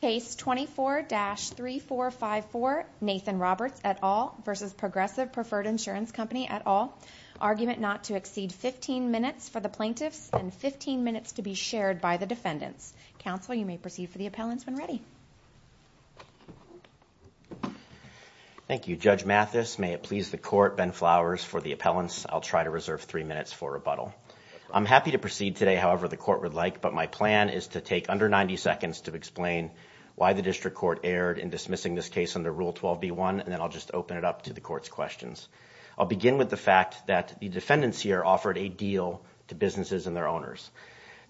Case 24-3454, Nathan Roberts et al. v. Progressive Preferred Insurance Company et al. Argument not to exceed 15 minutes for the plaintiffs and 15 minutes to be shared by the defendants. Counsel, you may proceed for the appellants when ready. Thank you, Judge Mathis. May it please the court, Ben Flowers, for the appellants. I'll try to reserve three minutes for rebuttal. I'm happy to proceed today however the court would like, but my plan is to take under 90 seconds to explain why the district court erred in dismissing this case under Rule 12b-1, and then I'll just open it up to the court's questions. I'll begin with the fact that the defendants here offered a deal to businesses and their owners.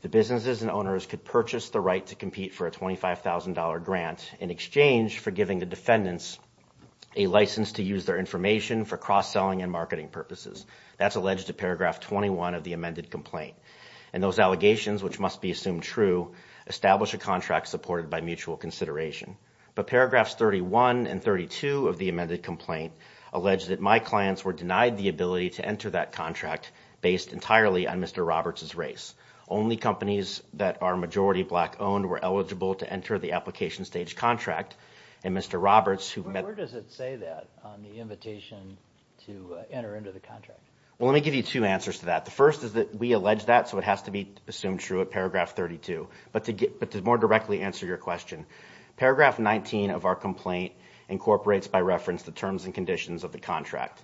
The businesses and owners could purchase the right to compete for a $25,000 grant in exchange for giving the defendants a license to use their information for cross-selling and marketing purposes. That's alleged to Paragraph 21 of the amended complaint. And those allegations, which must be assumed true, establish a contract supported by mutual consideration. But Paragraphs 31 and 32 of the amended complaint allege that my clients were denied the ability to enter that contract based entirely on Mr. Roberts' race. Only companies that are majority black-owned were eligible to enter the application stage contract, and Mr. Roberts, who met... Where does it say that on the invitation to enter into the contract? Well, let me give you two answers to that. The first is that we allege that, so it has to be assumed true at Paragraph 32. But to more directly answer your question, Paragraph 19 of our complaint incorporates, by reference, the terms and conditions of the contract.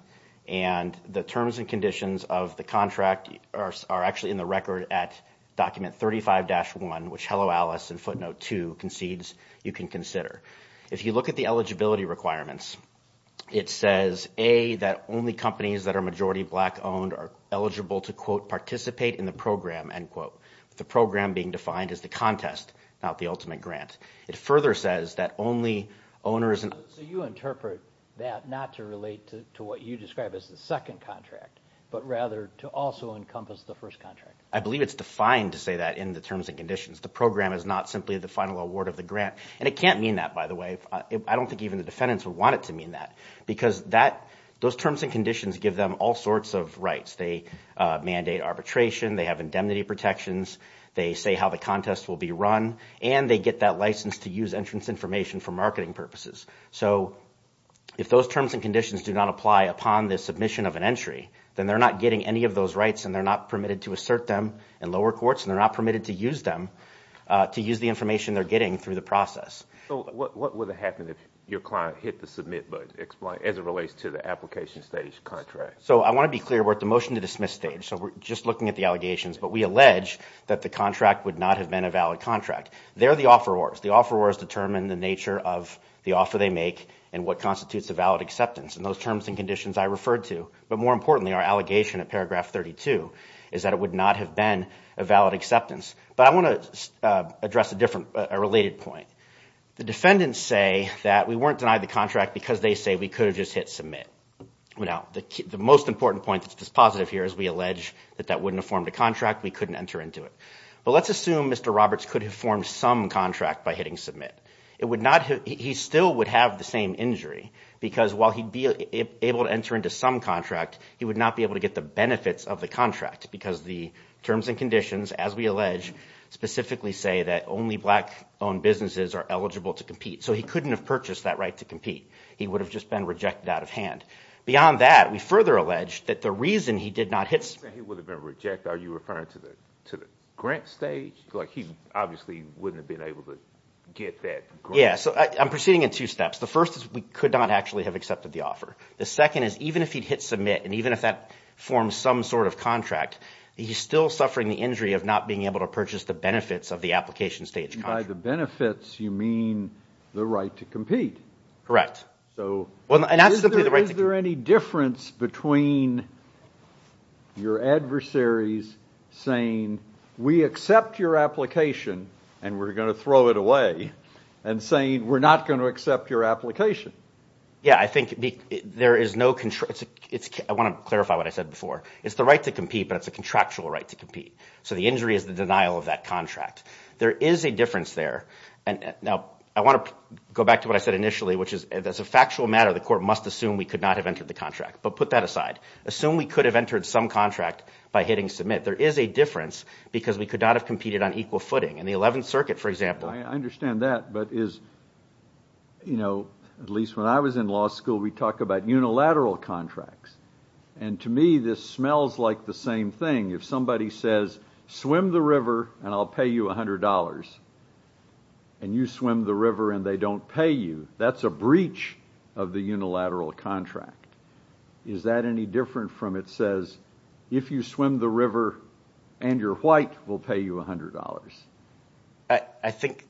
And the terms and conditions of the contract are actually in the record at Document 35-1, which Hello Alice and Footnote 2 concedes you can consider. If you look at the eligibility requirements, it says, A, that only companies that are majority black-owned are eligible to, quote, participate in the program, end quote. The program being defined as the contest, not the ultimate grant. It further says that only owners... So you interpret that not to relate to what you describe as the second contract, but rather to also encompass the first contract? I believe it's defined to say that in the terms and conditions. The program is not simply the final award of the grant. And it can't mean that, by the way. I don't think even the defendants would want it to mean that. Because those terms and conditions give them all sorts of rights. They mandate arbitration. They have indemnity protections. They say how the contest will be run. And they get that license to use entrance information for marketing purposes. So if those terms and conditions do not apply upon the submission of an entry, then they're not getting any of those rights, and they're not permitted to assert them in lower courts, and they're not permitted to use them to use the information they're getting through the process. So what would happen if your client hit the submit button as it relates to the application stage contract? So I want to be clear. We're at the motion to dismiss stage. So we're just looking at the allegations. But we allege that the contract would not have been a valid contract. They're the offerors. The offerors determine the nature of the offer they make and what constitutes a valid acceptance. And those terms and conditions I referred to, but more importantly, our allegation at paragraph 32, is that it would not have been a valid acceptance. But I want to address a different, a related point. The defendants say that we weren't denied the contract because they say we could have just hit submit. Now, the most important point that's just positive here is we allege that that wouldn't have formed a contract. We couldn't enter into it. But let's assume Mr. Roberts could have formed some contract by hitting submit. It would not have, he still would have the same injury because while he'd be able to enter into some contract, he would not be able to get the benefits of the contract because the terms and conditions, as we allege, specifically say that only black-owned businesses are eligible to compete. So he couldn't have purchased that right to compete. He would have just been rejected out of hand. Beyond that, we further allege that the reason he did not hit... He would have been rejected. Are you referring to the grant stage? Like he obviously wouldn't have been able to get that grant. Yeah, so I'm proceeding in two steps. The first is we could not actually have accepted the offer. The second is even if he'd hit submit and even if that formed some sort of contract, he's still suffering the injury of not being able to purchase the benefits of the application stage contract. By the benefits, you mean the right to compete. Correct. So is there any difference between your adversaries saying, we accept your application and we're going to throw it away and saying we're not going to accept your application? Yeah, I think there is no... I want to clarify what I said before. It's the right to compete, but it's a contractual right to compete. So the injury is the denial of that contract. There is a difference there. Now, I want to go back to what I said initially, which is as a factual matter, the court must assume we could not have entered the contract. But put that aside. Assume we could have entered some contract by hitting submit. There is a difference because we could not have competed on equal footing. In the 11th Circuit, for example... I understand that, but at least when I was in law school, we talked about unilateral contracts. And to me, this smells like the same thing. If somebody says, swim the river and I'll pay you $100, and you swim the river and they don't pay you, that's a breach of the unilateral contract. Is that any different from it says, if you swim the river and you're white, we'll pay you $100? I think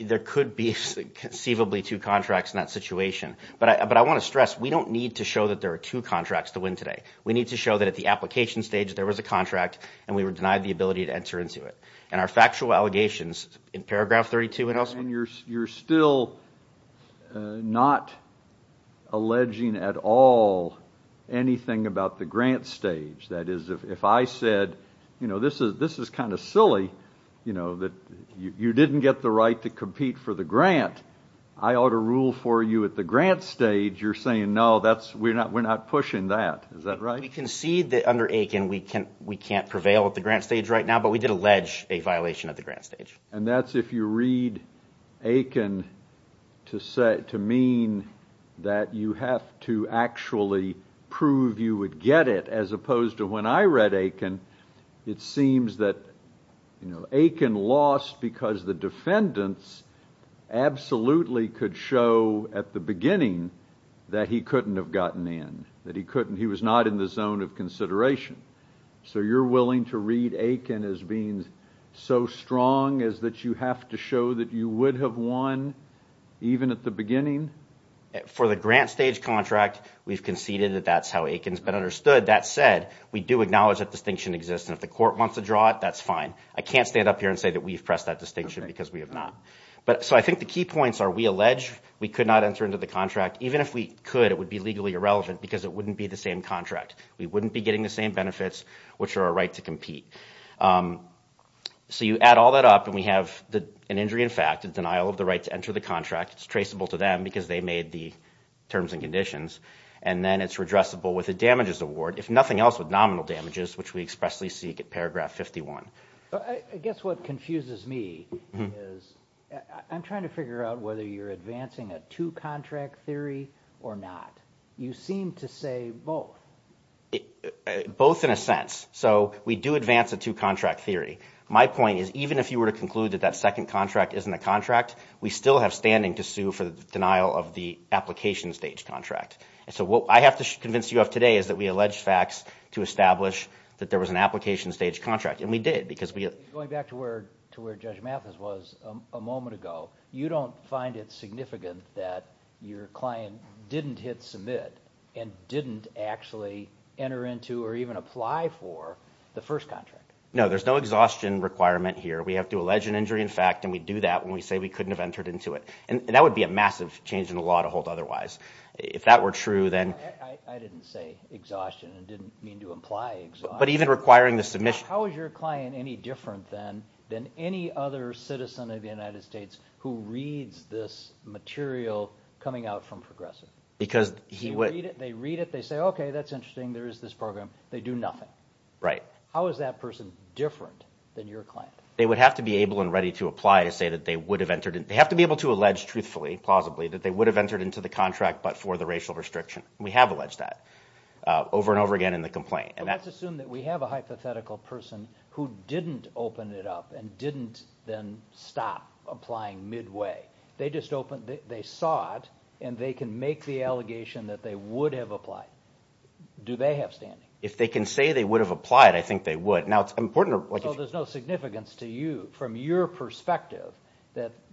there could be conceivably two contracts in that situation. But I want to stress, we don't need to show that there are two contracts to win today. We need to show that at the application stage, there was a contract and we were denied the ability to enter into it. And our factual allegations in paragraph 32... And you're still not alleging at all anything about the grant stage. That is, if I said, you know, this is kind of silly, you know, that you didn't get the right to compete for the grant, I ought to rule for you at the grant stage, you're saying, no, we're not pushing that. Is that right? We concede that under Aiken, we can't prevail at the grant stage right now, but we did allege a violation at the grant stage. And that's if you read Aiken to mean that you have to actually prove you would get it, as opposed to when I read Aiken, it seems that, you know, Aiken lost because the defendants absolutely could show at the beginning that he couldn't have gotten in, that he couldn't, he was not in the zone of consideration. So you're willing to read Aiken as being so strong as that you have to show that you would have won even at the beginning? For the grant stage contract, we've conceded that that's how Aiken's been understood. That said, we do acknowledge that distinction exists, and if the court wants to draw it, that's fine. I can't stand up here and say that we've pressed that distinction because we have not. But so I think the key points are we allege we could not enter into the contract. Even if we could, it would be legally irrelevant because it wouldn't be the same contract. We wouldn't be getting the same benefits, which are a right to compete. So you add all that up and we have an injury in fact, a denial of the right to enter the contract. It's traceable to them because they made the terms and conditions. And then it's redressable with a damages award, if nothing else, with nominal damages, which we expressly seek at paragraph 51. I guess what confuses me is I'm trying to figure out whether you're advancing a two-contract theory or not. You seem to say both. Both in a sense. So we do advance a two-contract theory. My point is even if you were to conclude that that second contract isn't a contract, we still have standing to sue for the denial of the application stage contract. So what I have to convince you of today is that we allege facts to establish that there was an application stage contract. And we did because we... Going back to where Judge Mathis was a moment ago, you don't find it significant that your client didn't hit submit and didn't actually enter into or even apply for the first contract. No, there's no exhaustion requirement here. We have to allege an injury in fact and we do that when we say we couldn't have entered into it. And that would be a massive change in the law to hold otherwise. If that were true, then... I didn't say exhaustion. I didn't mean to imply exhaustion. But even requiring the submission... How is your client any different than any other citizen of the United States who reads this material coming out from Progressive? Because he would... They read it. They say, okay, that's interesting. There is this program. They do nothing. Right. How is that person different than your client? They would have to be able and ready to apply to say that they would have entered in. They have to be able to allege truthfully, plausibly, that they would have entered into the contract but for the racial restriction. We have alleged that over and over again in the complaint. But let's assume that we have a hypothetical person who didn't open it up and didn't then stop applying midway. They just opened... They saw it and they can make the allegation that they would have applied. Do they have standing? If they can say they would have applied, I think they would. Now, it's important... So there's no significance to you from your perspective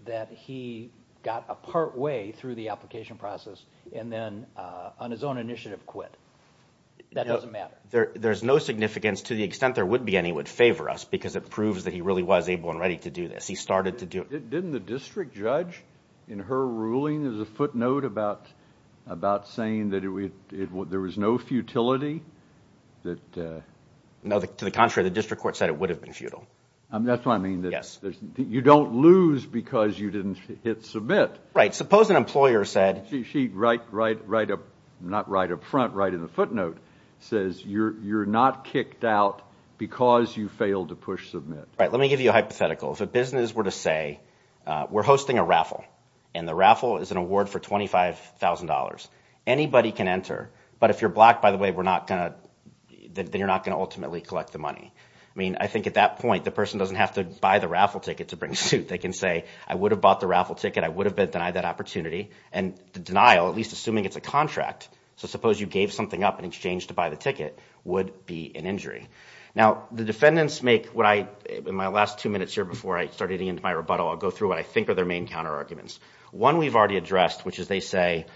that he got a part way through the application process and then on his own initiative quit. That doesn't matter. There's no significance to the extent there would be any would favor us because it proves that he really was able and ready to do this. He started to do it. Didn't the district judge in her ruling, there's a footnote about saying that there was no futility? That... No, to the contrary. The district court said it would have been futile. That's what I mean. Yes. You don't lose because you didn't hit submit. Suppose an employer said... She, right up... Not right up front, right in the footnote, says you're not kicked out because you failed to push submit. Right. Let me give you a hypothetical. If a business were to say, we're hosting a raffle and the raffle is an award for $25,000. Anybody can enter. But if you're blocked, by the way, we're not going to... Then you're not going to ultimately collect the money. I mean, I think at that point, the person doesn't have to buy the raffle ticket to bring suit. They can say, I would have bought the raffle ticket. I would have denied that opportunity. And the denial, at least assuming it's a contract, so suppose you gave something up in exchange to buy the ticket, would be an injury. Now, the defendants make what I... In my last two minutes here before I started getting into my rebuttal, I'll go through what I think are their main counter arguments. One we've already addressed, which is they say,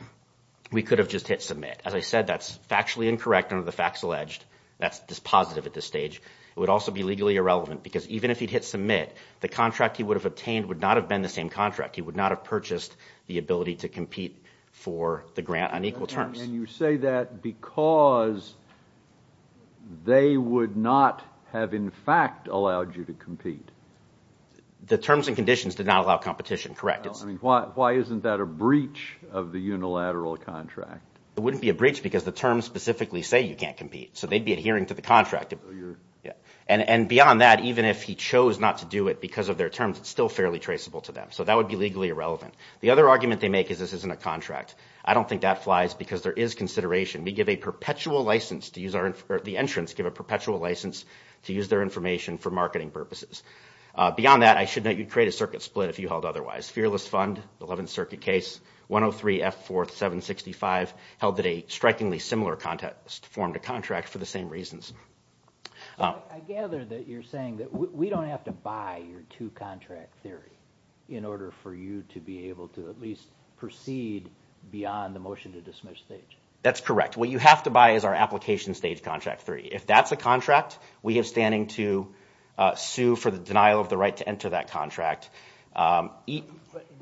we could have just hit submit. As I said, that's factually incorrect under the facts alleged. That's just positive at this stage. It would also be legally irrelevant because even if he'd hit submit, the contract he would have obtained would not have been the same contract. He would not have purchased the ability to compete for the grant on equal terms. And you say that because they would not have in fact allowed you to compete. The terms and conditions did not allow competition, correct. I mean, why isn't that a breach of the unilateral contract? It wouldn't be a breach because the terms specifically say you can't compete. So they'd be adhering to the contract. And beyond that, even if he chose not to do it because of their terms, it's still fairly traceable to them. So that would be legally irrelevant. The other argument they make is this isn't a contract. I don't think that flies because there is consideration. We give a perpetual license to use our... The entrants give a perpetual license to use their information for marketing purposes. Beyond that, I should note you'd create a circuit split if you held otherwise. Fearless Fund, 11th Circuit case, 103 F. 4th, 765, held that a strikingly similar form to contract for the same reasons. I gather that you're saying that we don't have to buy your two-contract theory in order for you to be able to at least proceed beyond the motion to dismiss stage. That's correct. What you have to buy is our application stage contract theory. If that's a contract, we are standing to sue for the denial of the right to enter that contract. This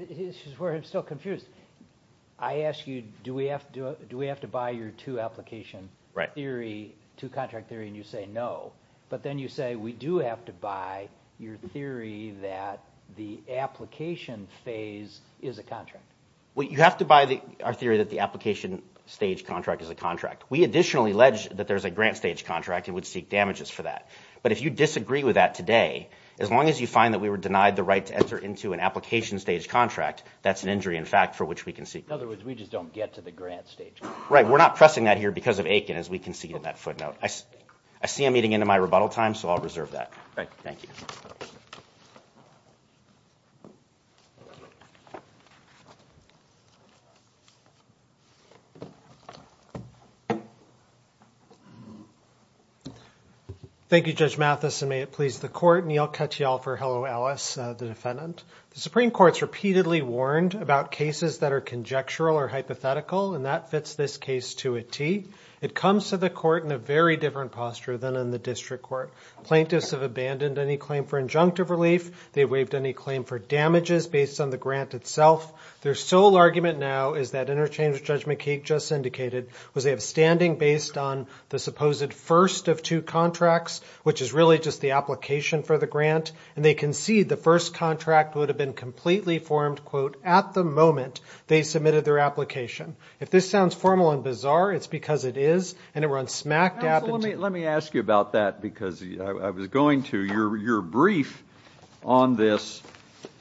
is where I'm still confused. I asked you, do we have to buy your two-application theory, two-contract theory, and you say no. But then you say we do have to buy your theory that the application phase is a contract. Well, you have to buy our theory that the application stage contract is a contract. We additionally allege that there's a grant stage contract and would seek damages for that. But if you disagree with that today, as long as you find that we were denied the right to enter into an application stage contract, that's an injury in fact for which we can seek. In other words, we just don't get to the grant stage. Right, we're not pressing that here because of Aiken as we can see in that footnote. I see I'm eating into my rebuttal time, so I'll reserve that. Thank you. Thank you, Judge Mathis, and may it please the court. And I'll cut you off for hello, Alice, the defendant. The Supreme Court's repeatedly warned about cases that are conjectural or hypothetical, and that fits this case to a T. It comes to the court in a very different posture than in the district court. Plaintiffs have abandoned any claim for injunctive relief. They've waived any claim for damages based on the grant itself. Their sole argument now is that Interchange, Judge McKeague just indicated, was they have standing based on the supposed first of two contracts, which is really just the application for the grant. And they concede the first contract would have been completely formed, quote, at the moment they submitted their application. If this sounds formal and bizarre, it's because it is, and it runs smack dab. Counsel, let me ask you about that because I was going to. Your brief on this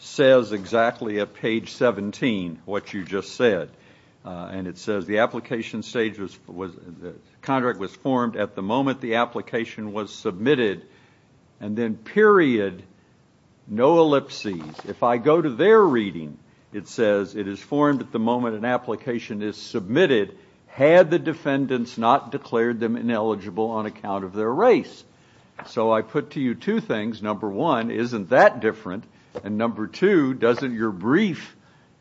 says exactly at page 17 what you just said. And it says the application stage was, the contract was formed at the moment the application was submitted, and then period, no ellipses. If I go to their reading, it says it is formed at the moment an application is submitted had the defendants not declared them ineligible on account of their race. So I put to you two things. Number one, isn't that different? And number two, doesn't your brief,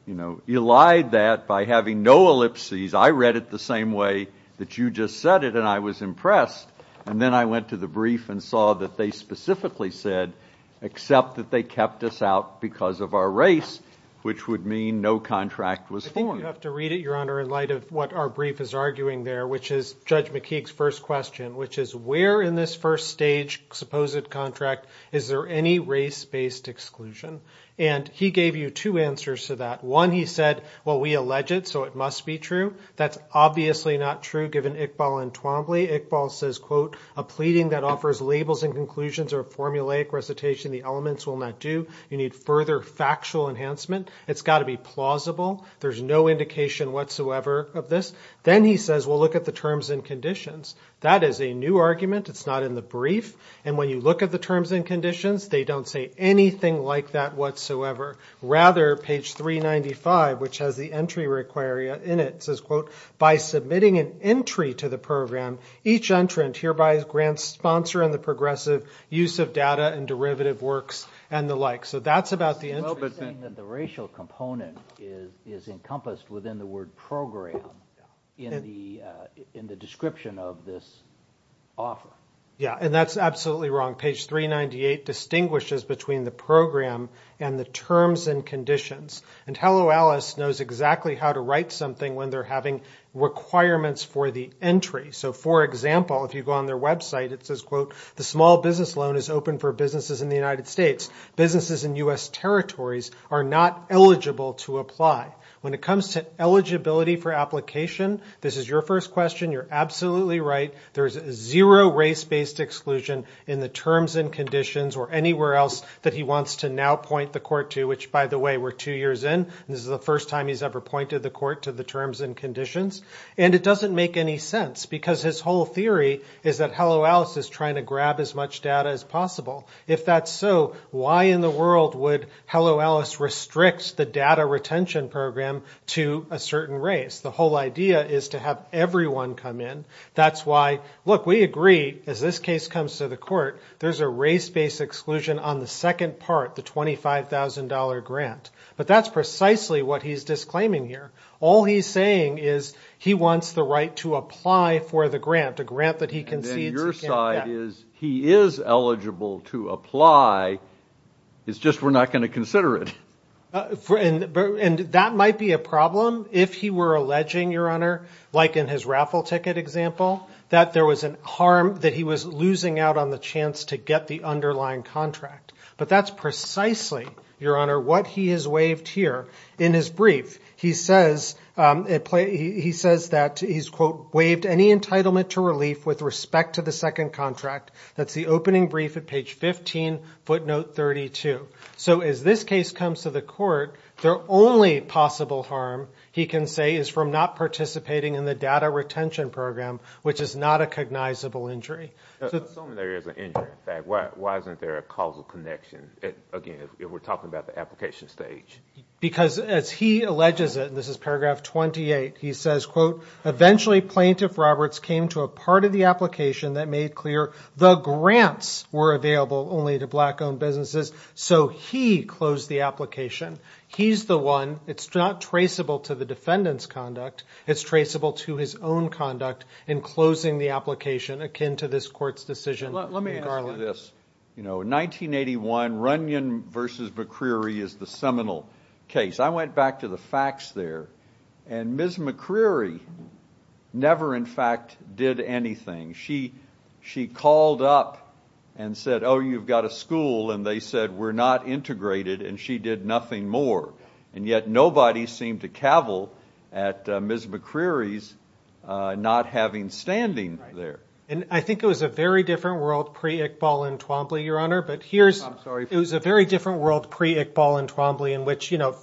you know, elide that by having no ellipses? I read it the same way that you just said it and I was impressed. And then I went to the brief and saw that they specifically said, except that they kept us out because of our race, which would mean no contract was formed. I think you have to read it, Your Honor, in light of what our brief is arguing there, which is Judge McKeague's first question, which is where in this first stage supposed contract is there any race-based exclusion? And he gave you two answers to that. One, he said, well, we allege it, so it must be true. That's obviously not true given Iqbal and Twombly. Iqbal says, quote, a pleading that offers labels and conclusions or a formulaic recitation of the elements will not do. You need further factual enhancement. It's got to be plausible. There's no indication whatsoever of this. Then he says, well, look at the terms and conditions. That is a new argument. It's not in the brief. And when you look at the terms and conditions, they don't say anything like that whatsoever. Rather, page 395, which has the entry in it, says, quote, by submitting an entry to the program, each entrant hereby grants sponsor in the progressive use of data and derivative works and the like. So that's about the entry. Well, but then the racial component is encompassed within the word program in the description of this offer. Yeah, and that's absolutely wrong. Page 398 distinguishes between the program and the terms and conditions. And Hello Alice knows exactly how to write something when they're having requirements for the entry. So for example, if you go on their website, it says, quote, the small business loan is open for businesses in the United States. Businesses in US territories are not eligible to apply. When it comes to eligibility for application, this is your first question. You're absolutely right. There is zero race-based exclusion in the terms and conditions or anywhere else that he wants to now point the court to, which, by the way, we're two years in. This is the first time he's ever pointed the court to the terms and conditions, and it doesn't make any sense because his whole theory is that Hello Alice is trying to grab as much data as possible. If that's so, why in the world would Hello Alice restrict the data retention program to a certain race? The whole idea is to have everyone come in. That's why, look, we agree, as this case comes to the court, there's a race-based exclusion on the second part, the $25,000 grant. But that's precisely what he's disclaiming here. All he's saying is he wants the right to apply for the grant, the grant that he concedes he can't get. And then your side is he is eligible to apply. It's just we're not going to consider it. And that might be a problem if he were alleging, Your Honor, like in his raffle ticket example, that there was a harm that he was losing out on the chance to get the underlying contract. But that's precisely, Your Honor, what he has waived here. In his brief, he says that he's, quote, waived any entitlement to relief with respect to the second contract. That's the opening brief at page 15, footnote 32. So as this case comes to the court, the only possible harm, he can say, is from not participating in the data retention program, which is not a cognizable injury. Assuming there is an injury, in fact, why isn't there a causal connection, again, if we're talking about the application stage? Because as he alleges it, and this is paragraph 28, he says, quote, eventually Plaintiff Roberts came to a part of the application that made clear the grants were available only to black-owned businesses. So he closed the application. He's the one. It's not traceable to the defendant's conduct. It's traceable to his own conduct in closing the application akin to this court's decision in Garland. In 1981, Runyon v. McCreary is the seminal case. I went back to the facts there, and Ms. McCreary never, in fact, did anything. She called up and said, oh, you've got a school, and they said we're not integrated, and she did nothing more. And yet nobody seemed to cavil at Ms. McCreary's not having standing there. And I think it was a very different world pre-Iqbal and Twombly, Your Honor. I'm sorry. It was a very different world pre-Iqbal and Twombly in which, you know,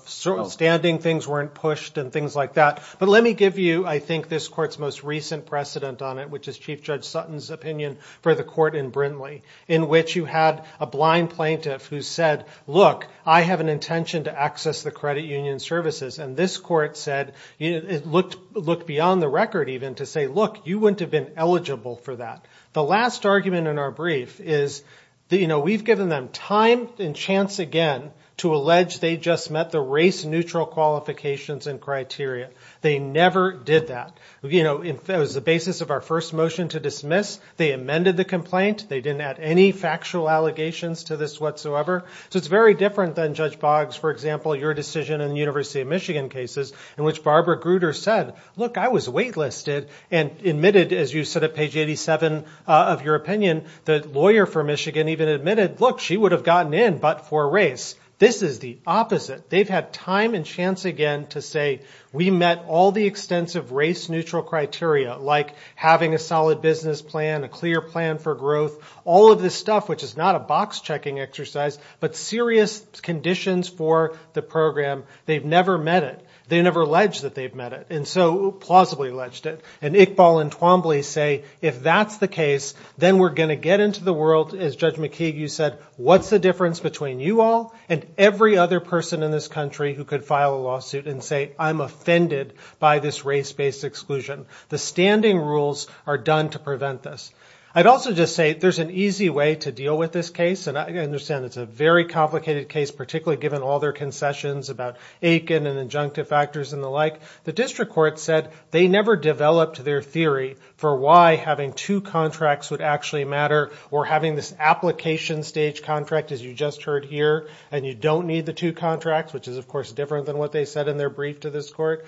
standing things weren't pushed and things like that. But let me give you, I think, this court's most recent precedent on it, which is Chief Judge Sutton's opinion for the court in Brindley, in which you had a blind plaintiff who said, look, I have an intention to access the credit union services. And this court said, looked beyond the record even to say, look, you wouldn't have been eligible for that. The last argument in our brief is, you know, we've given them time and chance again to allege they just met the race-neutral qualifications and criteria. They never did that. You know, it was the basis of our first motion to dismiss. They amended the complaint. They didn't add any factual allegations to this whatsoever. So it's very different than Judge Boggs, for example, your decision in the University of Michigan cases in which Barbara Grutter said, look, I was wait-listed. And admitted, as you said at page 87 of your opinion, the lawyer for Michigan even admitted, look, she would have gotten in but for race. This is the opposite. They've had time and chance again to say, we met all the extensive race-neutral criteria, like having a solid business plan, a clear plan for growth, all of this stuff, which is not a box-checking exercise, but serious conditions for the program. They've never met it. They never alleged that they've met it, and so plausibly alleged it. And Iqbal and Twombly say, if that's the case, then we're going to get into the world, as Judge McKeague, you said, what's the difference between you all and every other person in this country who could file a lawsuit and say, I'm offended by this race-based exclusion. The standing rules are done to prevent this. I'd also just say there's an easy way to deal with this case, and I understand it's a very complicated case, particularly given all their concessions about Aiken and injunctive factors and the like. The district court said they never developed their theory for why having two contracts would actually matter or having this application stage contract, as you just heard here, and you don't need the two contracts, which is, of course, different than what they said in their brief to this court.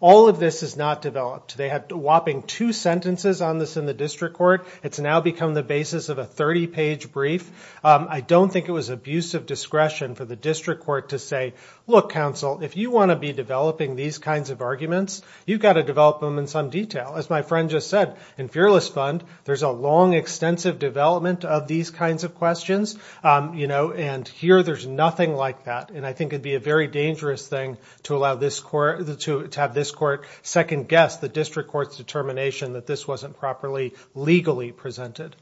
All of this is not developed. They had a whopping two sentences on this in the district court. It's now become the basis of a 30-page brief. I don't think it was abusive discretion for the district court to say, look, counsel, if you want to be developing these kinds of arguments, you've got to develop them in some detail. As my friend just said, in Fearless Fund, there's a long, extensive development of these kinds of questions, and here there's nothing like that, and I think it would be a very dangerous thing to have this court second-guess the district court's determination that this wasn't properly legally presented.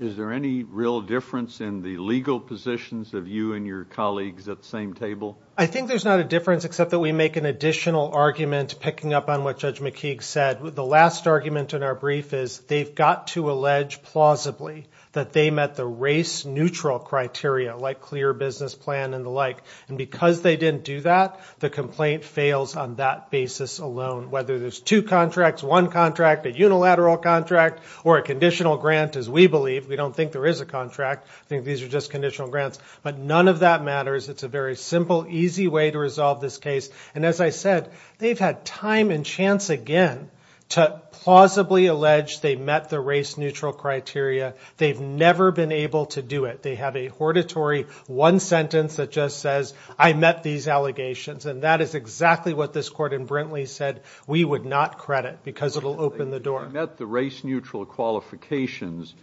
Is there any real difference in the legal positions of you and your colleagues at the same table? I think there's not a difference except that we make an additional argument picking up on what Judge McKeague said. The last argument in our brief is they've got to allege plausibly that they met the race-neutral criteria, like clear business plan and the like, and because they didn't do that, the complaint fails on that basis alone. Whether there's two contracts, one contract, a unilateral contract, or a conditional grant, as we believe. We don't think there is a contract. I think these are just conditional grants. But none of that matters. It's a very simple, easy way to resolve this case, and as I said, they've had time and chance again to plausibly allege they met the race-neutral criteria. They've never been able to do it. They have a hortatory one sentence that just says, I met these allegations, and that is exactly what this court in Brintley said we would not credit because it will open the door. If they had met the race-neutral qualifications,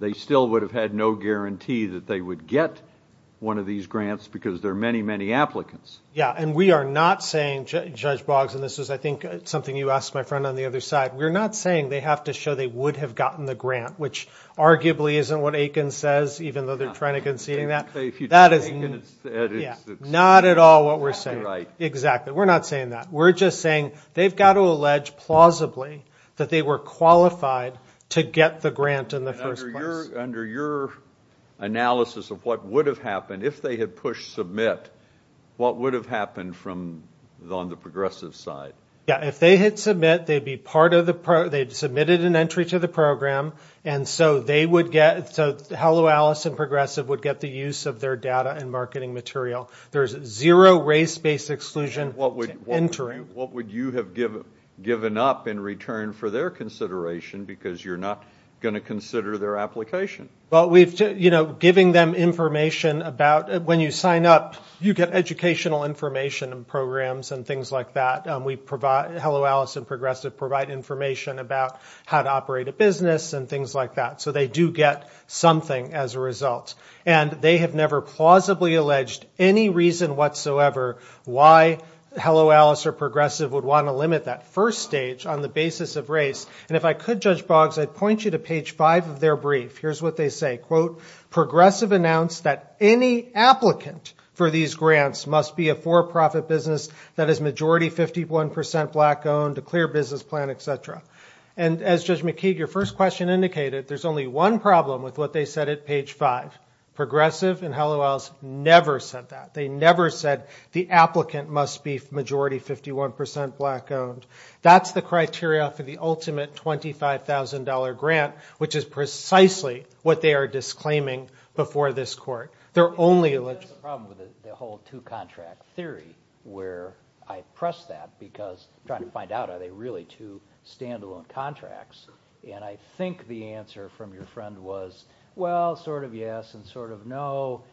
they still would have had no guarantee that they would get one of these grants because there are many, many applicants. Yeah, and we are not saying, Judge Boggs, and this is I think something you asked my friend on the other side, we're not saying they have to show they would have gotten the grant, which arguably isn't what Aiken says, even though they're trying to concede that. If you don't say Aiken, it's – Not at all what we're saying. Exactly. We're not saying that. We're just saying they've got to allege plausibly that they were qualified to get the grant in the first place. Under your analysis of what would have happened, if they had pushed submit, what would have happened from – on the progressive side? Yeah, if they had submit, they'd be part of the – they'd submitted an entry to the program, and so they would get – so Hello Alice and Progressive would get the use of their data and marketing material. There's zero race-based exclusion entry. What would you have given up in return for their consideration, because you're not going to consider their application? Well, we've – giving them information about – when you sign up, you get educational information and programs and things like that. We provide – Hello Alice and Progressive provide information about how to operate a business and things like that. So they do get something as a result. And they have never plausibly alleged any reason whatsoever why Hello Alice or Progressive would want to limit that first stage on the basis of race. And if I could, Judge Boggs, I'd point you to page 5 of their brief. Here's what they say. Quote, Progressive announced that any applicant for these grants must be a for-profit business that is majority 51 percent black-owned, a clear business plan, et cetera. And as Judge McKeague, your first question indicated, there's only one problem with what they said at page 5. Progressive and Hello Alice never said that. They never said the applicant must be majority 51 percent black-owned. That's the criteria for the ultimate $25,000 grant, which is precisely what they are disclaiming before this court. They're only – That's the problem with the whole two-contract theory, where I press that because I'm trying to find out, are they really two standalone contracts? And I think the answer from your friend was, well, sort of yes and sort of no.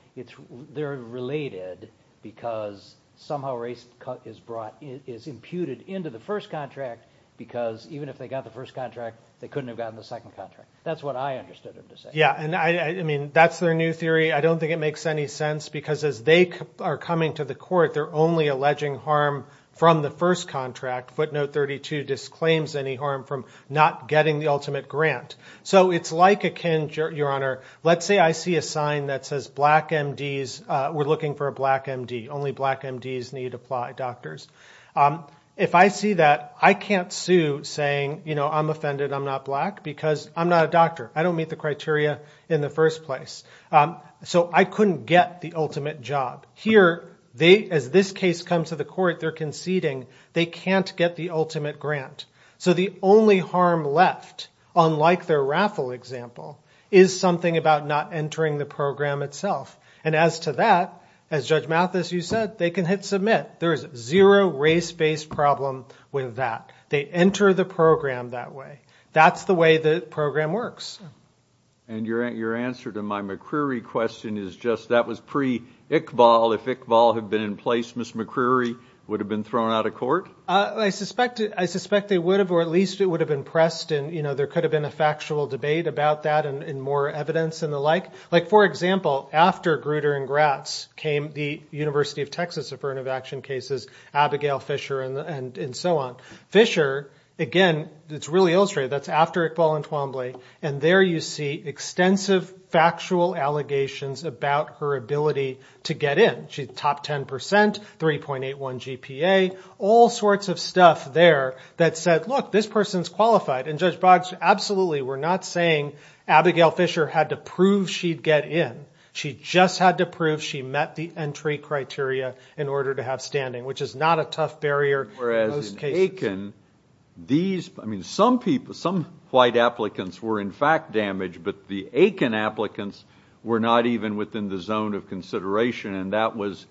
They're related because somehow race is brought – is imputed into the first contract because even if they got the first contract, they couldn't have gotten the second contract. That's what I understood them to say. Yeah, and I mean that's their new theory. I don't think it makes any sense because as they are coming to the court, they're only alleging harm from the first contract. Footnote 32 disclaims any harm from not getting the ultimate grant. So it's like a – your Honor, let's say I see a sign that says black MDs. We're looking for a black MD. Only black MDs need to apply, doctors. If I see that, I can't sue saying I'm offended I'm not black because I'm not a doctor. I don't meet the criteria in the first place. So I couldn't get the ultimate job. Here, as this case comes to the court, they're conceding. They can't get the ultimate grant. So the only harm left, unlike their raffle example, is something about not entering the program itself. And as to that, as Judge Mathis, you said, they can hit submit. There is zero race-based problem with that. They enter the program that way. That's the way the program works. And your answer to my McCreery question is just that was pre-Iqbal. If Iqbal had been in place, Ms. McCreery would have been thrown out of court? I suspect they would have, or at least it would have impressed. And, you know, there could have been a factual debate about that and more evidence and the like. Like, for example, after Grutter and Gratz came the University of Texas Affirmative Action cases, Abigail Fisher and so on. Fisher, again, it's really illustrated. That's after Iqbal and Twombly. And there you see extensive factual allegations about her ability to get in. She's top 10%, 3.81 GPA, all sorts of stuff there that said, look, this person's qualified. And Judge Boggs, absolutely, we're not saying Abigail Fisher had to prove she'd get in. She just had to prove she met the entry criteria in order to have standing, which is not a tough barrier in most cases. I mean, some white applicants were in fact damaged, but the Aiken applicants were not even within the zone of consideration, and that was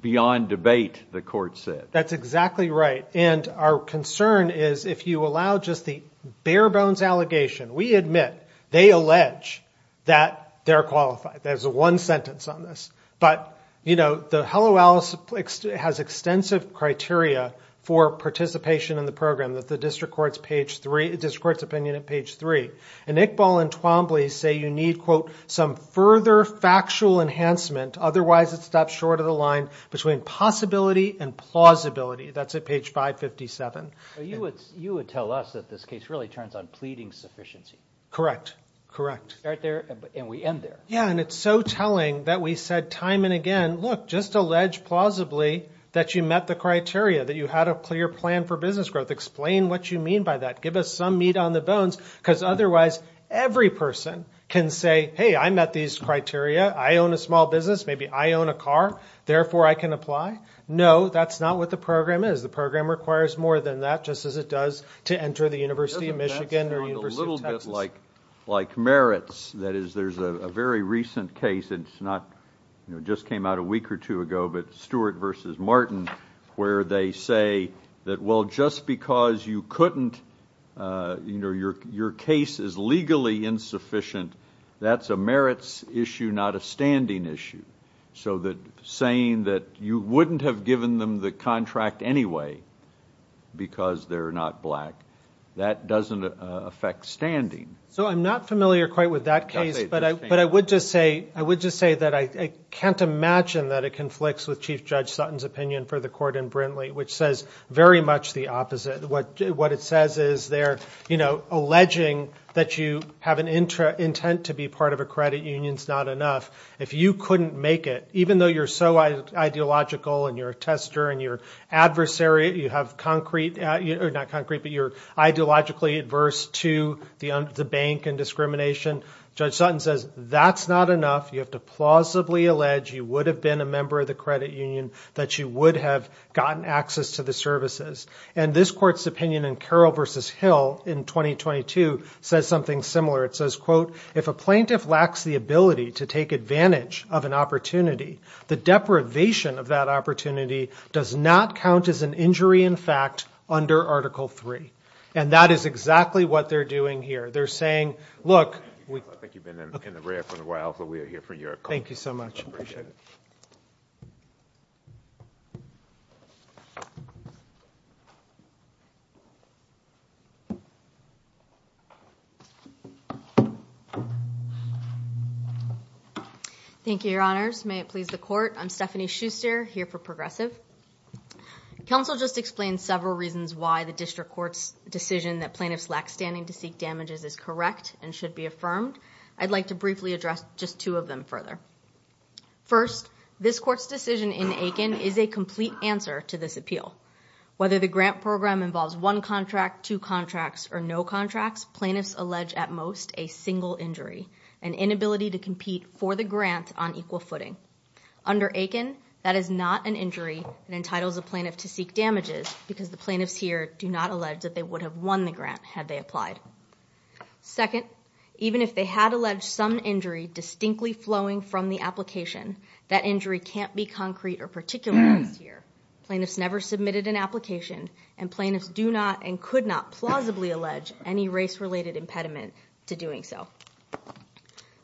beyond debate, the court said. That's exactly right. And our concern is if you allow just the bare-bones allegation, we admit they allege that they're qualified. There's one sentence on this. But, you know, the Hello Alice has extensive criteria for participation in the program, the district court's opinion at page 3. And Iqbal and Twombly say you need, quote, some further factual enhancement, otherwise it's a step short of the line, between possibility and plausibility. That's at page 557. You would tell us that this case really turns on pleading sufficiency. Correct, correct. Start there and we end there. Yeah, and it's so telling that we said time and again, look, just allege plausibly that you met the criteria, that you had a clear plan for business growth. Explain what you mean by that. Give us some meat on the bones, because otherwise every person can say, hey, I met these criteria, I own a small business, maybe I own a car, therefore I can apply. No, that's not what the program is. The program requires more than that, just as it does to enter the University of Michigan or the University of Texas. Like merits, that is, there's a very recent case, and it just came out a week or two ago, but Stewart v. Martin, where they say that, well, just because you couldn't, your case is legally insufficient, that's a merits issue, not a standing issue. So saying that you wouldn't have given them the contract anyway because they're not black, that doesn't affect standing. So I'm not familiar quite with that case, but I would just say that I can't imagine that it conflicts with Chief Judge Sutton's opinion for the court in Brintley, which says very much the opposite. What it says is they're alleging that you have an intent to be part of a credit union, it's not enough. If you couldn't make it, even though you're so ideological and you're a tester and you're adversarial, you have concrete, not concrete, but you're ideologically adverse to the bank and discrimination, Judge Sutton says that's not enough. You have to plausibly allege you would have been a member of the credit union, that you would have gotten access to the services. And this court's opinion in Carroll v. Hill in 2022 says something similar. It says, quote, if a plaintiff lacks the ability to take advantage of an opportunity, the deprivation of that opportunity does not count as an injury in fact under Article 3. And that is exactly what they're doing here. They're saying, look. I think you've been in the red for a while, but we are here for your call. Thank you so much. Appreciate it. Thank you. Thank you, Your Honors. May it please the court. I'm Stephanie Schuster here for Progressive. Counsel just explained several reasons why the district court's decision that plaintiffs lack standing to seek damages is correct and should be affirmed. I'd like to briefly address just two of them further. First, this court's decision in Aiken is a complete answer to this appeal. Whether the grant program involves one contract, two contracts, or no contracts, plaintiffs allege at most a single injury, an inability to compete for the grant on equal footing. Under Aiken, that is not an injury and entitles a plaintiff to seek damages because the plaintiffs here do not allege that they would have won the grant had they applied. Second, even if they had alleged some injury distinctly flowing from the application, that injury can't be concrete or particularized here. Plaintiffs never submitted an application, and plaintiffs do not and could not plausibly allege any race-related impediment to doing so.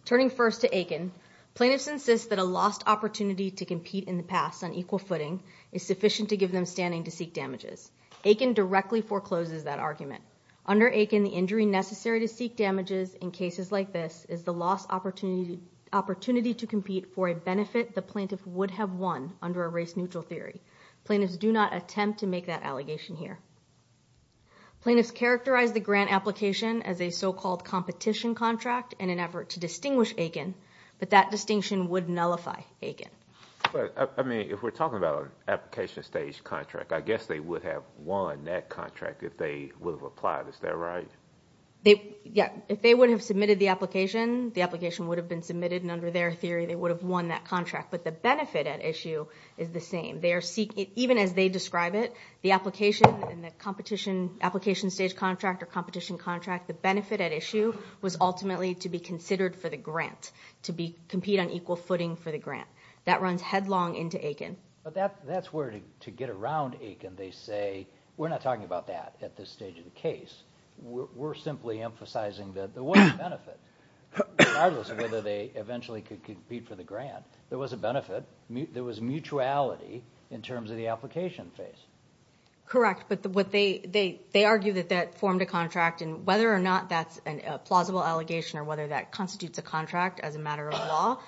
Turning first to Aiken, plaintiffs insist that a lost opportunity to compete in the past on equal footing is sufficient to give them standing to seek damages. Aiken directly forecloses that argument. Under Aiken, the injury necessary to seek damages in cases like this is the lost opportunity to compete for a benefit the plaintiff would have won under a race-neutral theory. Plaintiffs do not attempt to make that allegation here. Plaintiffs characterize the grant application as a so-called competition contract in an effort to distinguish Aiken, but that distinction would nullify Aiken. But, I mean, if we're talking about an application-stage contract, I guess they would have won that contract if they would have applied. Is that right? Yeah. If they would have submitted the application, the application would have been submitted, and under their theory they would have won that contract. But the benefit at issue is the same. Even as they describe it, the application and the competition, application-stage contract or competition contract, the benefit at issue was ultimately to be considered for the grant, to compete on equal footing for the grant. That runs headlong into Aiken. But that's where, to get around Aiken, they say, we're not talking about that at this stage of the case. We're simply emphasizing that there was a benefit, regardless of whether they eventually could compete for the grant. There was a benefit. There was mutuality in terms of the application phase. Correct, but they argue that that formed a contract, and whether or not that's a plausible allegation or whether that constitutes a contract as a matter of law,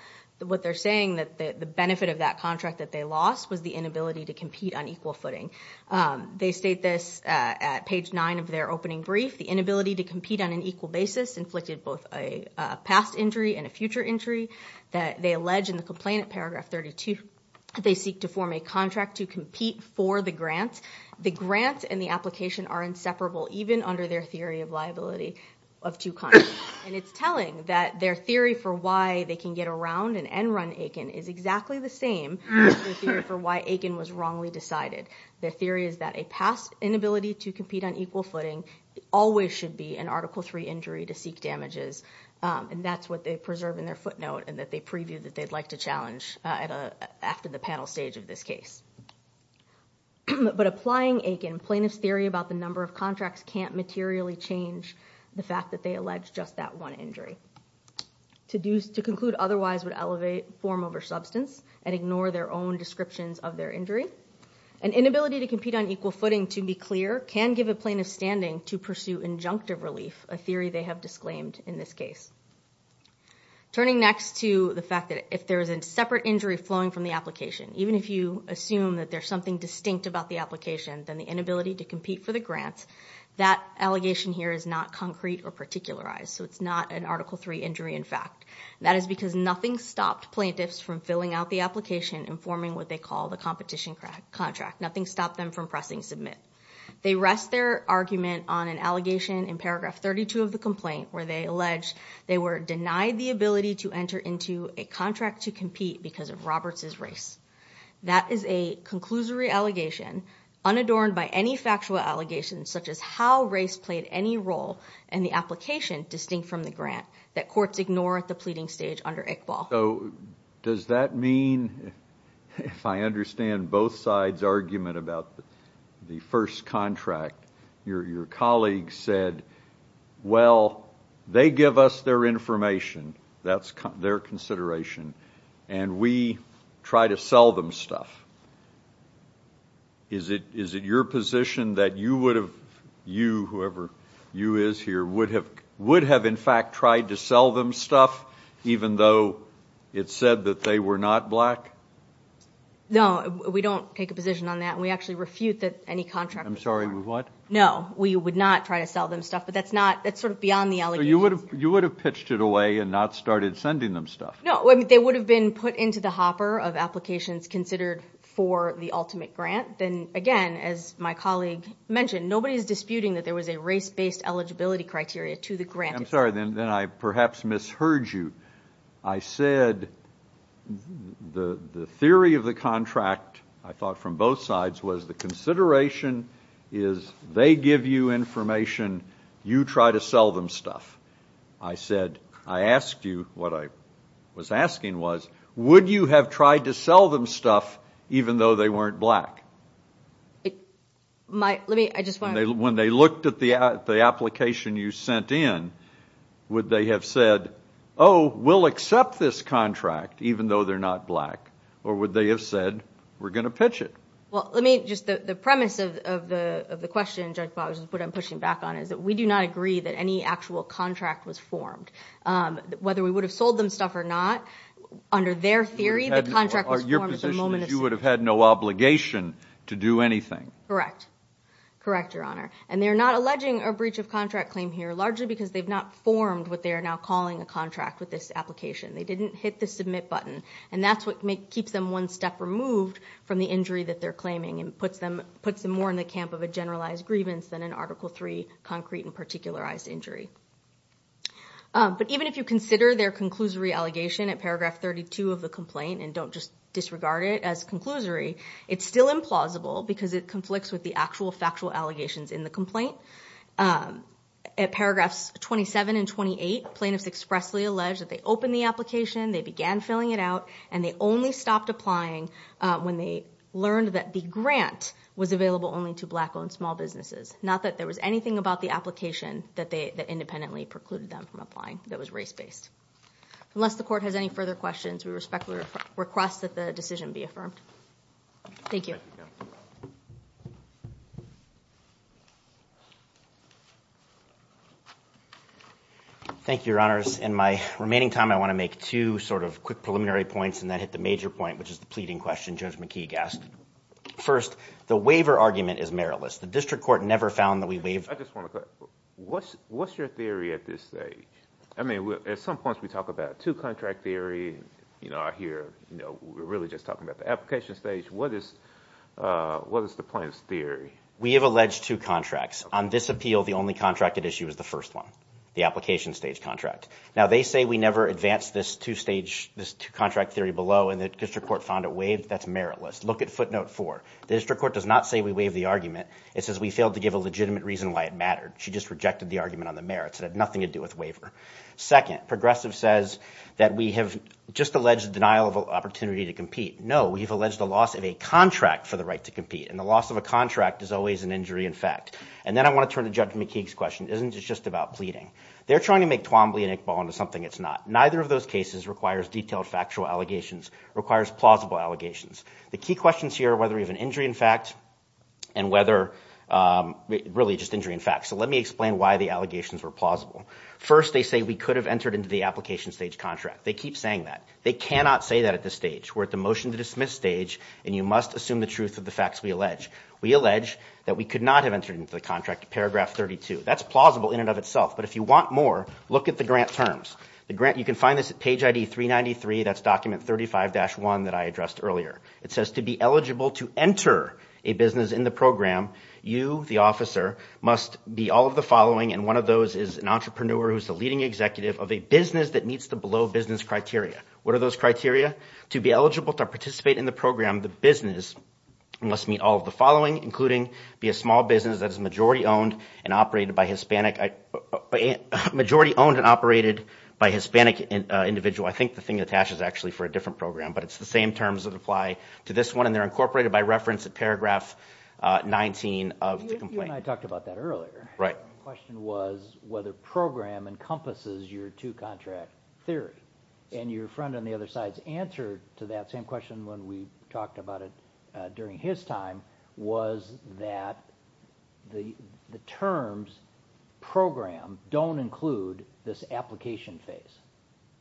what they're saying that the benefit of that contract that they lost was the inability to compete on equal footing. They state this at page 9 of their opening brief. The inability to compete on an equal basis inflicted both a past injury and a future injury that they allege in the complaint at paragraph 32. They seek to form a contract to compete for the grant. The grant and the application are inseparable, even under their theory of liability of two contracts. And it's telling that their theory for why they can get around and end run Aiken is exactly the same as their theory for why Aiken was wrongly decided. Their theory is that a past inability to compete on equal footing always should be an Article III injury to seek damages, and that's what they preserve in their footnote and that they preview that they'd like to challenge after the panel stage of this case. But applying Aiken, plaintiff's theory about the number of contracts can't materially change the fact that they allege just that one injury. To conclude otherwise would elevate form over substance and ignore their own descriptions of their injury. An inability to compete on equal footing, to be clear, can give a plaintiff standing to pursue injunctive relief, a theory they have disclaimed in this case. Turning next to the fact that if there is a separate injury flowing from the application, even if you assume that there's something distinct about the application than the inability to compete for the grant, that allegation here is not concrete or particularized, so it's not an Article III injury in fact. That is because nothing stopped plaintiffs from filling out the application and forming what they call the competition contract. Nothing stopped them from pressing submit. They rest their argument on an allegation in paragraph 32 of the complaint where they allege they were denied the ability to enter into a contract to compete because of Roberts' race. That is a conclusory allegation unadorned by any factual allegations such as how race played any role in the application distinct from the grant that courts ignore at the pleading stage under ICBAL. So does that mean if I understand both sides' argument about the first contract, your colleagues said, well, they give us their information, that's their consideration, and we try to sell them stuff. Is it your position that you would have, you, whoever you is here, would have in fact tried to sell them stuff, even though it said that they were not black? No, we don't take a position on that. We actually refute any contract. I'm sorry, what? No, we would not try to sell them stuff, but that's sort of beyond the allegations. So you would have pitched it away and not started sending them stuff? No, they would have been put into the hopper of applications considered for the ultimate grant. Then, again, as my colleague mentioned, nobody is disputing that there was a race-based eligibility criteria to the grant. I'm sorry, then I perhaps misheard you. I said the theory of the contract, I thought, from both sides, was the consideration is they give you information, you try to sell them stuff. I said, I asked you, what I was asking was, would you have tried to sell them stuff even though they weren't black? Let me, I just want to. When they looked at the application you sent in, would they have said, oh, we'll accept this contract even though they're not black, or would they have said, we're going to pitch it? Well, let me, just the premise of the question, Judge Boggs, what I'm pushing back on is that we do not agree that any actual contract was formed. Whether we would have sold them stuff or not, under their theory, the contract was formed at the moment of sale. Your position is you would have had no obligation to do anything. Correct. Correct, Your Honor. And they're not alleging a breach of contract claim here, largely because they've not formed what they are now calling a contract with this application. They didn't hit the submit button, and that's what keeps them one step removed from the injury that they're claiming and puts them more in the camp of a generalized grievance than an Article III concrete and particularized injury. But even if you consider their conclusory allegation at Paragraph 32 of the complaint and don't just disregard it as conclusory, it's still implausible because it conflicts with the actual factual allegations in the complaint. At Paragraphs 27 and 28, plaintiffs expressly allege that they opened the application, they began filling it out, and they only stopped applying when they learned that the grant was available only to black-owned small businesses, not that there was anything about the application that independently precluded them from applying that was race-based. Unless the Court has any further questions, we respectfully request that the decision be affirmed. Thank you. Thank you, Your Honors. In my remaining time, I want to make two sort of quick preliminary points, and then hit the major point, which is the pleading question Judge McKeague asked. First, the waiver argument is meritless. The district court never found that we waived. I just want to clarify. What's your theory at this stage? I mean, at some points we talk about two-contract theory. I hear we're really just talking about the application stage. What is the plaintiff's theory? We have alleged two contracts. On this appeal, the only contract at issue is the first one, the application stage contract. Now, they say we never advanced this two-stage, this two-contract theory below, and the district court found it waived. That's meritless. Look at footnote four. The district court does not say we waived the argument. It says we failed to give a legitimate reason why it mattered. She just rejected the argument on the merits. It had nothing to do with waiver. Second, Progressive says that we have just alleged denial of opportunity to compete. No, we have alleged the loss of a contract for the right to compete, and the loss of a contract is always an injury in fact. And then I want to turn to Judge McKeague's question. Isn't this just about pleading? They're trying to make Twombly and Iqbal into something it's not. Neither of those cases requires detailed factual allegations, requires plausible allegations. The key questions here are whether we have an injury in fact and whether really just injury in fact. So let me explain why the allegations were plausible. First, they say we could have entered into the application stage contract. They keep saying that. They cannot say that at this stage. We're at the motion to dismiss stage, and you must assume the truth of the facts we allege. We allege that we could not have entered into the contract, paragraph 32. That's plausible in and of itself, but if you want more, look at the grant terms. You can find this at page ID 393. That's document 35-1 that I addressed earlier. It says to be eligible to enter a business in the program, you, the officer, must be all of the following, and one of those is an entrepreneur who's the leading executive of a business that meets the below business criteria. What are those criteria? To be eligible to participate in the program, the business must meet all of the following, including be a small business that is majority owned and operated by Hispanic individual. I think the thing that attaches actually for a different program, but it's the same terms that apply to this one, and they're incorporated by reference at paragraph 19 of the complaint. You and I talked about that earlier. Right. The question was whether program encompasses your two-contract theory, and your friend on the other side's answer to that same question when we talked about it during his time was that the terms program don't include this application phase.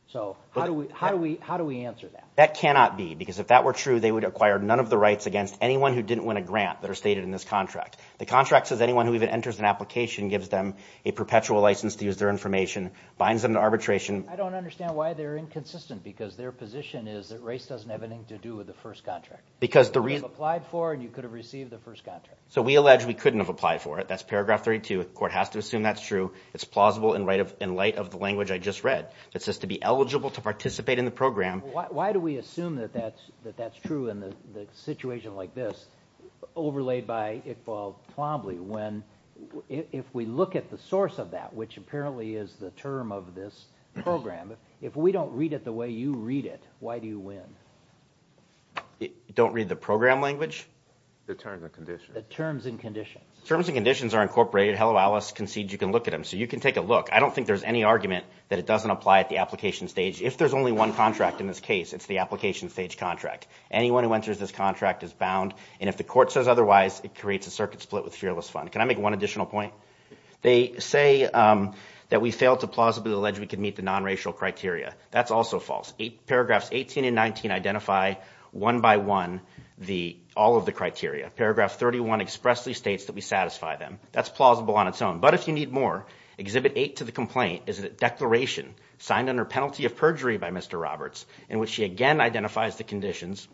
So how do we answer that? That cannot be because if that were true, they would acquire none of the rights against anyone who didn't win a grant that are stated in this contract. The contract says anyone who even enters an application gives them a perpetual license to use their information, binds them to arbitration. I don't understand why they're inconsistent because their position is that race doesn't have anything to do with the first contract. You could have applied for and you could have received the first contract. So we allege we couldn't have applied for it. That's paragraph 32. The court has to assume that's true. It's plausible in light of the language I just read. It says to be eligible to participate in the program. Why do we assume that that's true in a situation like this overlaid by Iqbal Twombly when if we look at the source of that, which apparently is the term of this program, if we don't read it the way you read it, why do you win? Don't read the program language? The terms and conditions. The terms and conditions. Terms and conditions are incorporated. Hello, Alice concedes you can look at them. So you can take a look. I don't think there's any argument that it doesn't apply at the application stage. If there's only one contract in this case, it's the application stage contract. Anyone who enters this contract is bound, and if the court says otherwise, it creates a circuit split with fearless fund. Can I make one additional point? They say that we fail to plausibly allege we can meet the nonracial criteria. That's also false. Paragraphs 18 and 19 identify one by one all of the criteria. Paragraph 31 expressly states that we satisfy them. That's plausible on its own. But if you need more, Exhibit 8 to the complaint is a declaration signed under penalty of perjury by Mr. Roberts in which he again identifies the conditions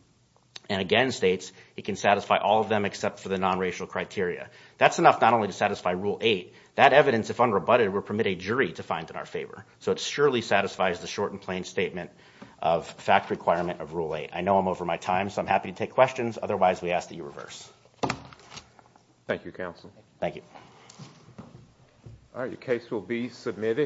and again states he can satisfy all of them except for the nonracial criteria. That's enough not only to satisfy Rule 8. That evidence, if unrebutted, will permit a jury to find in our favor. So it surely satisfies the short and plain statement of fact requirement of Rule 8. I know I'm over my time, so I'm happy to take questions. Otherwise, we ask that you reverse. Thank you, Counsel. Thank you. All right. Your case will be submitted.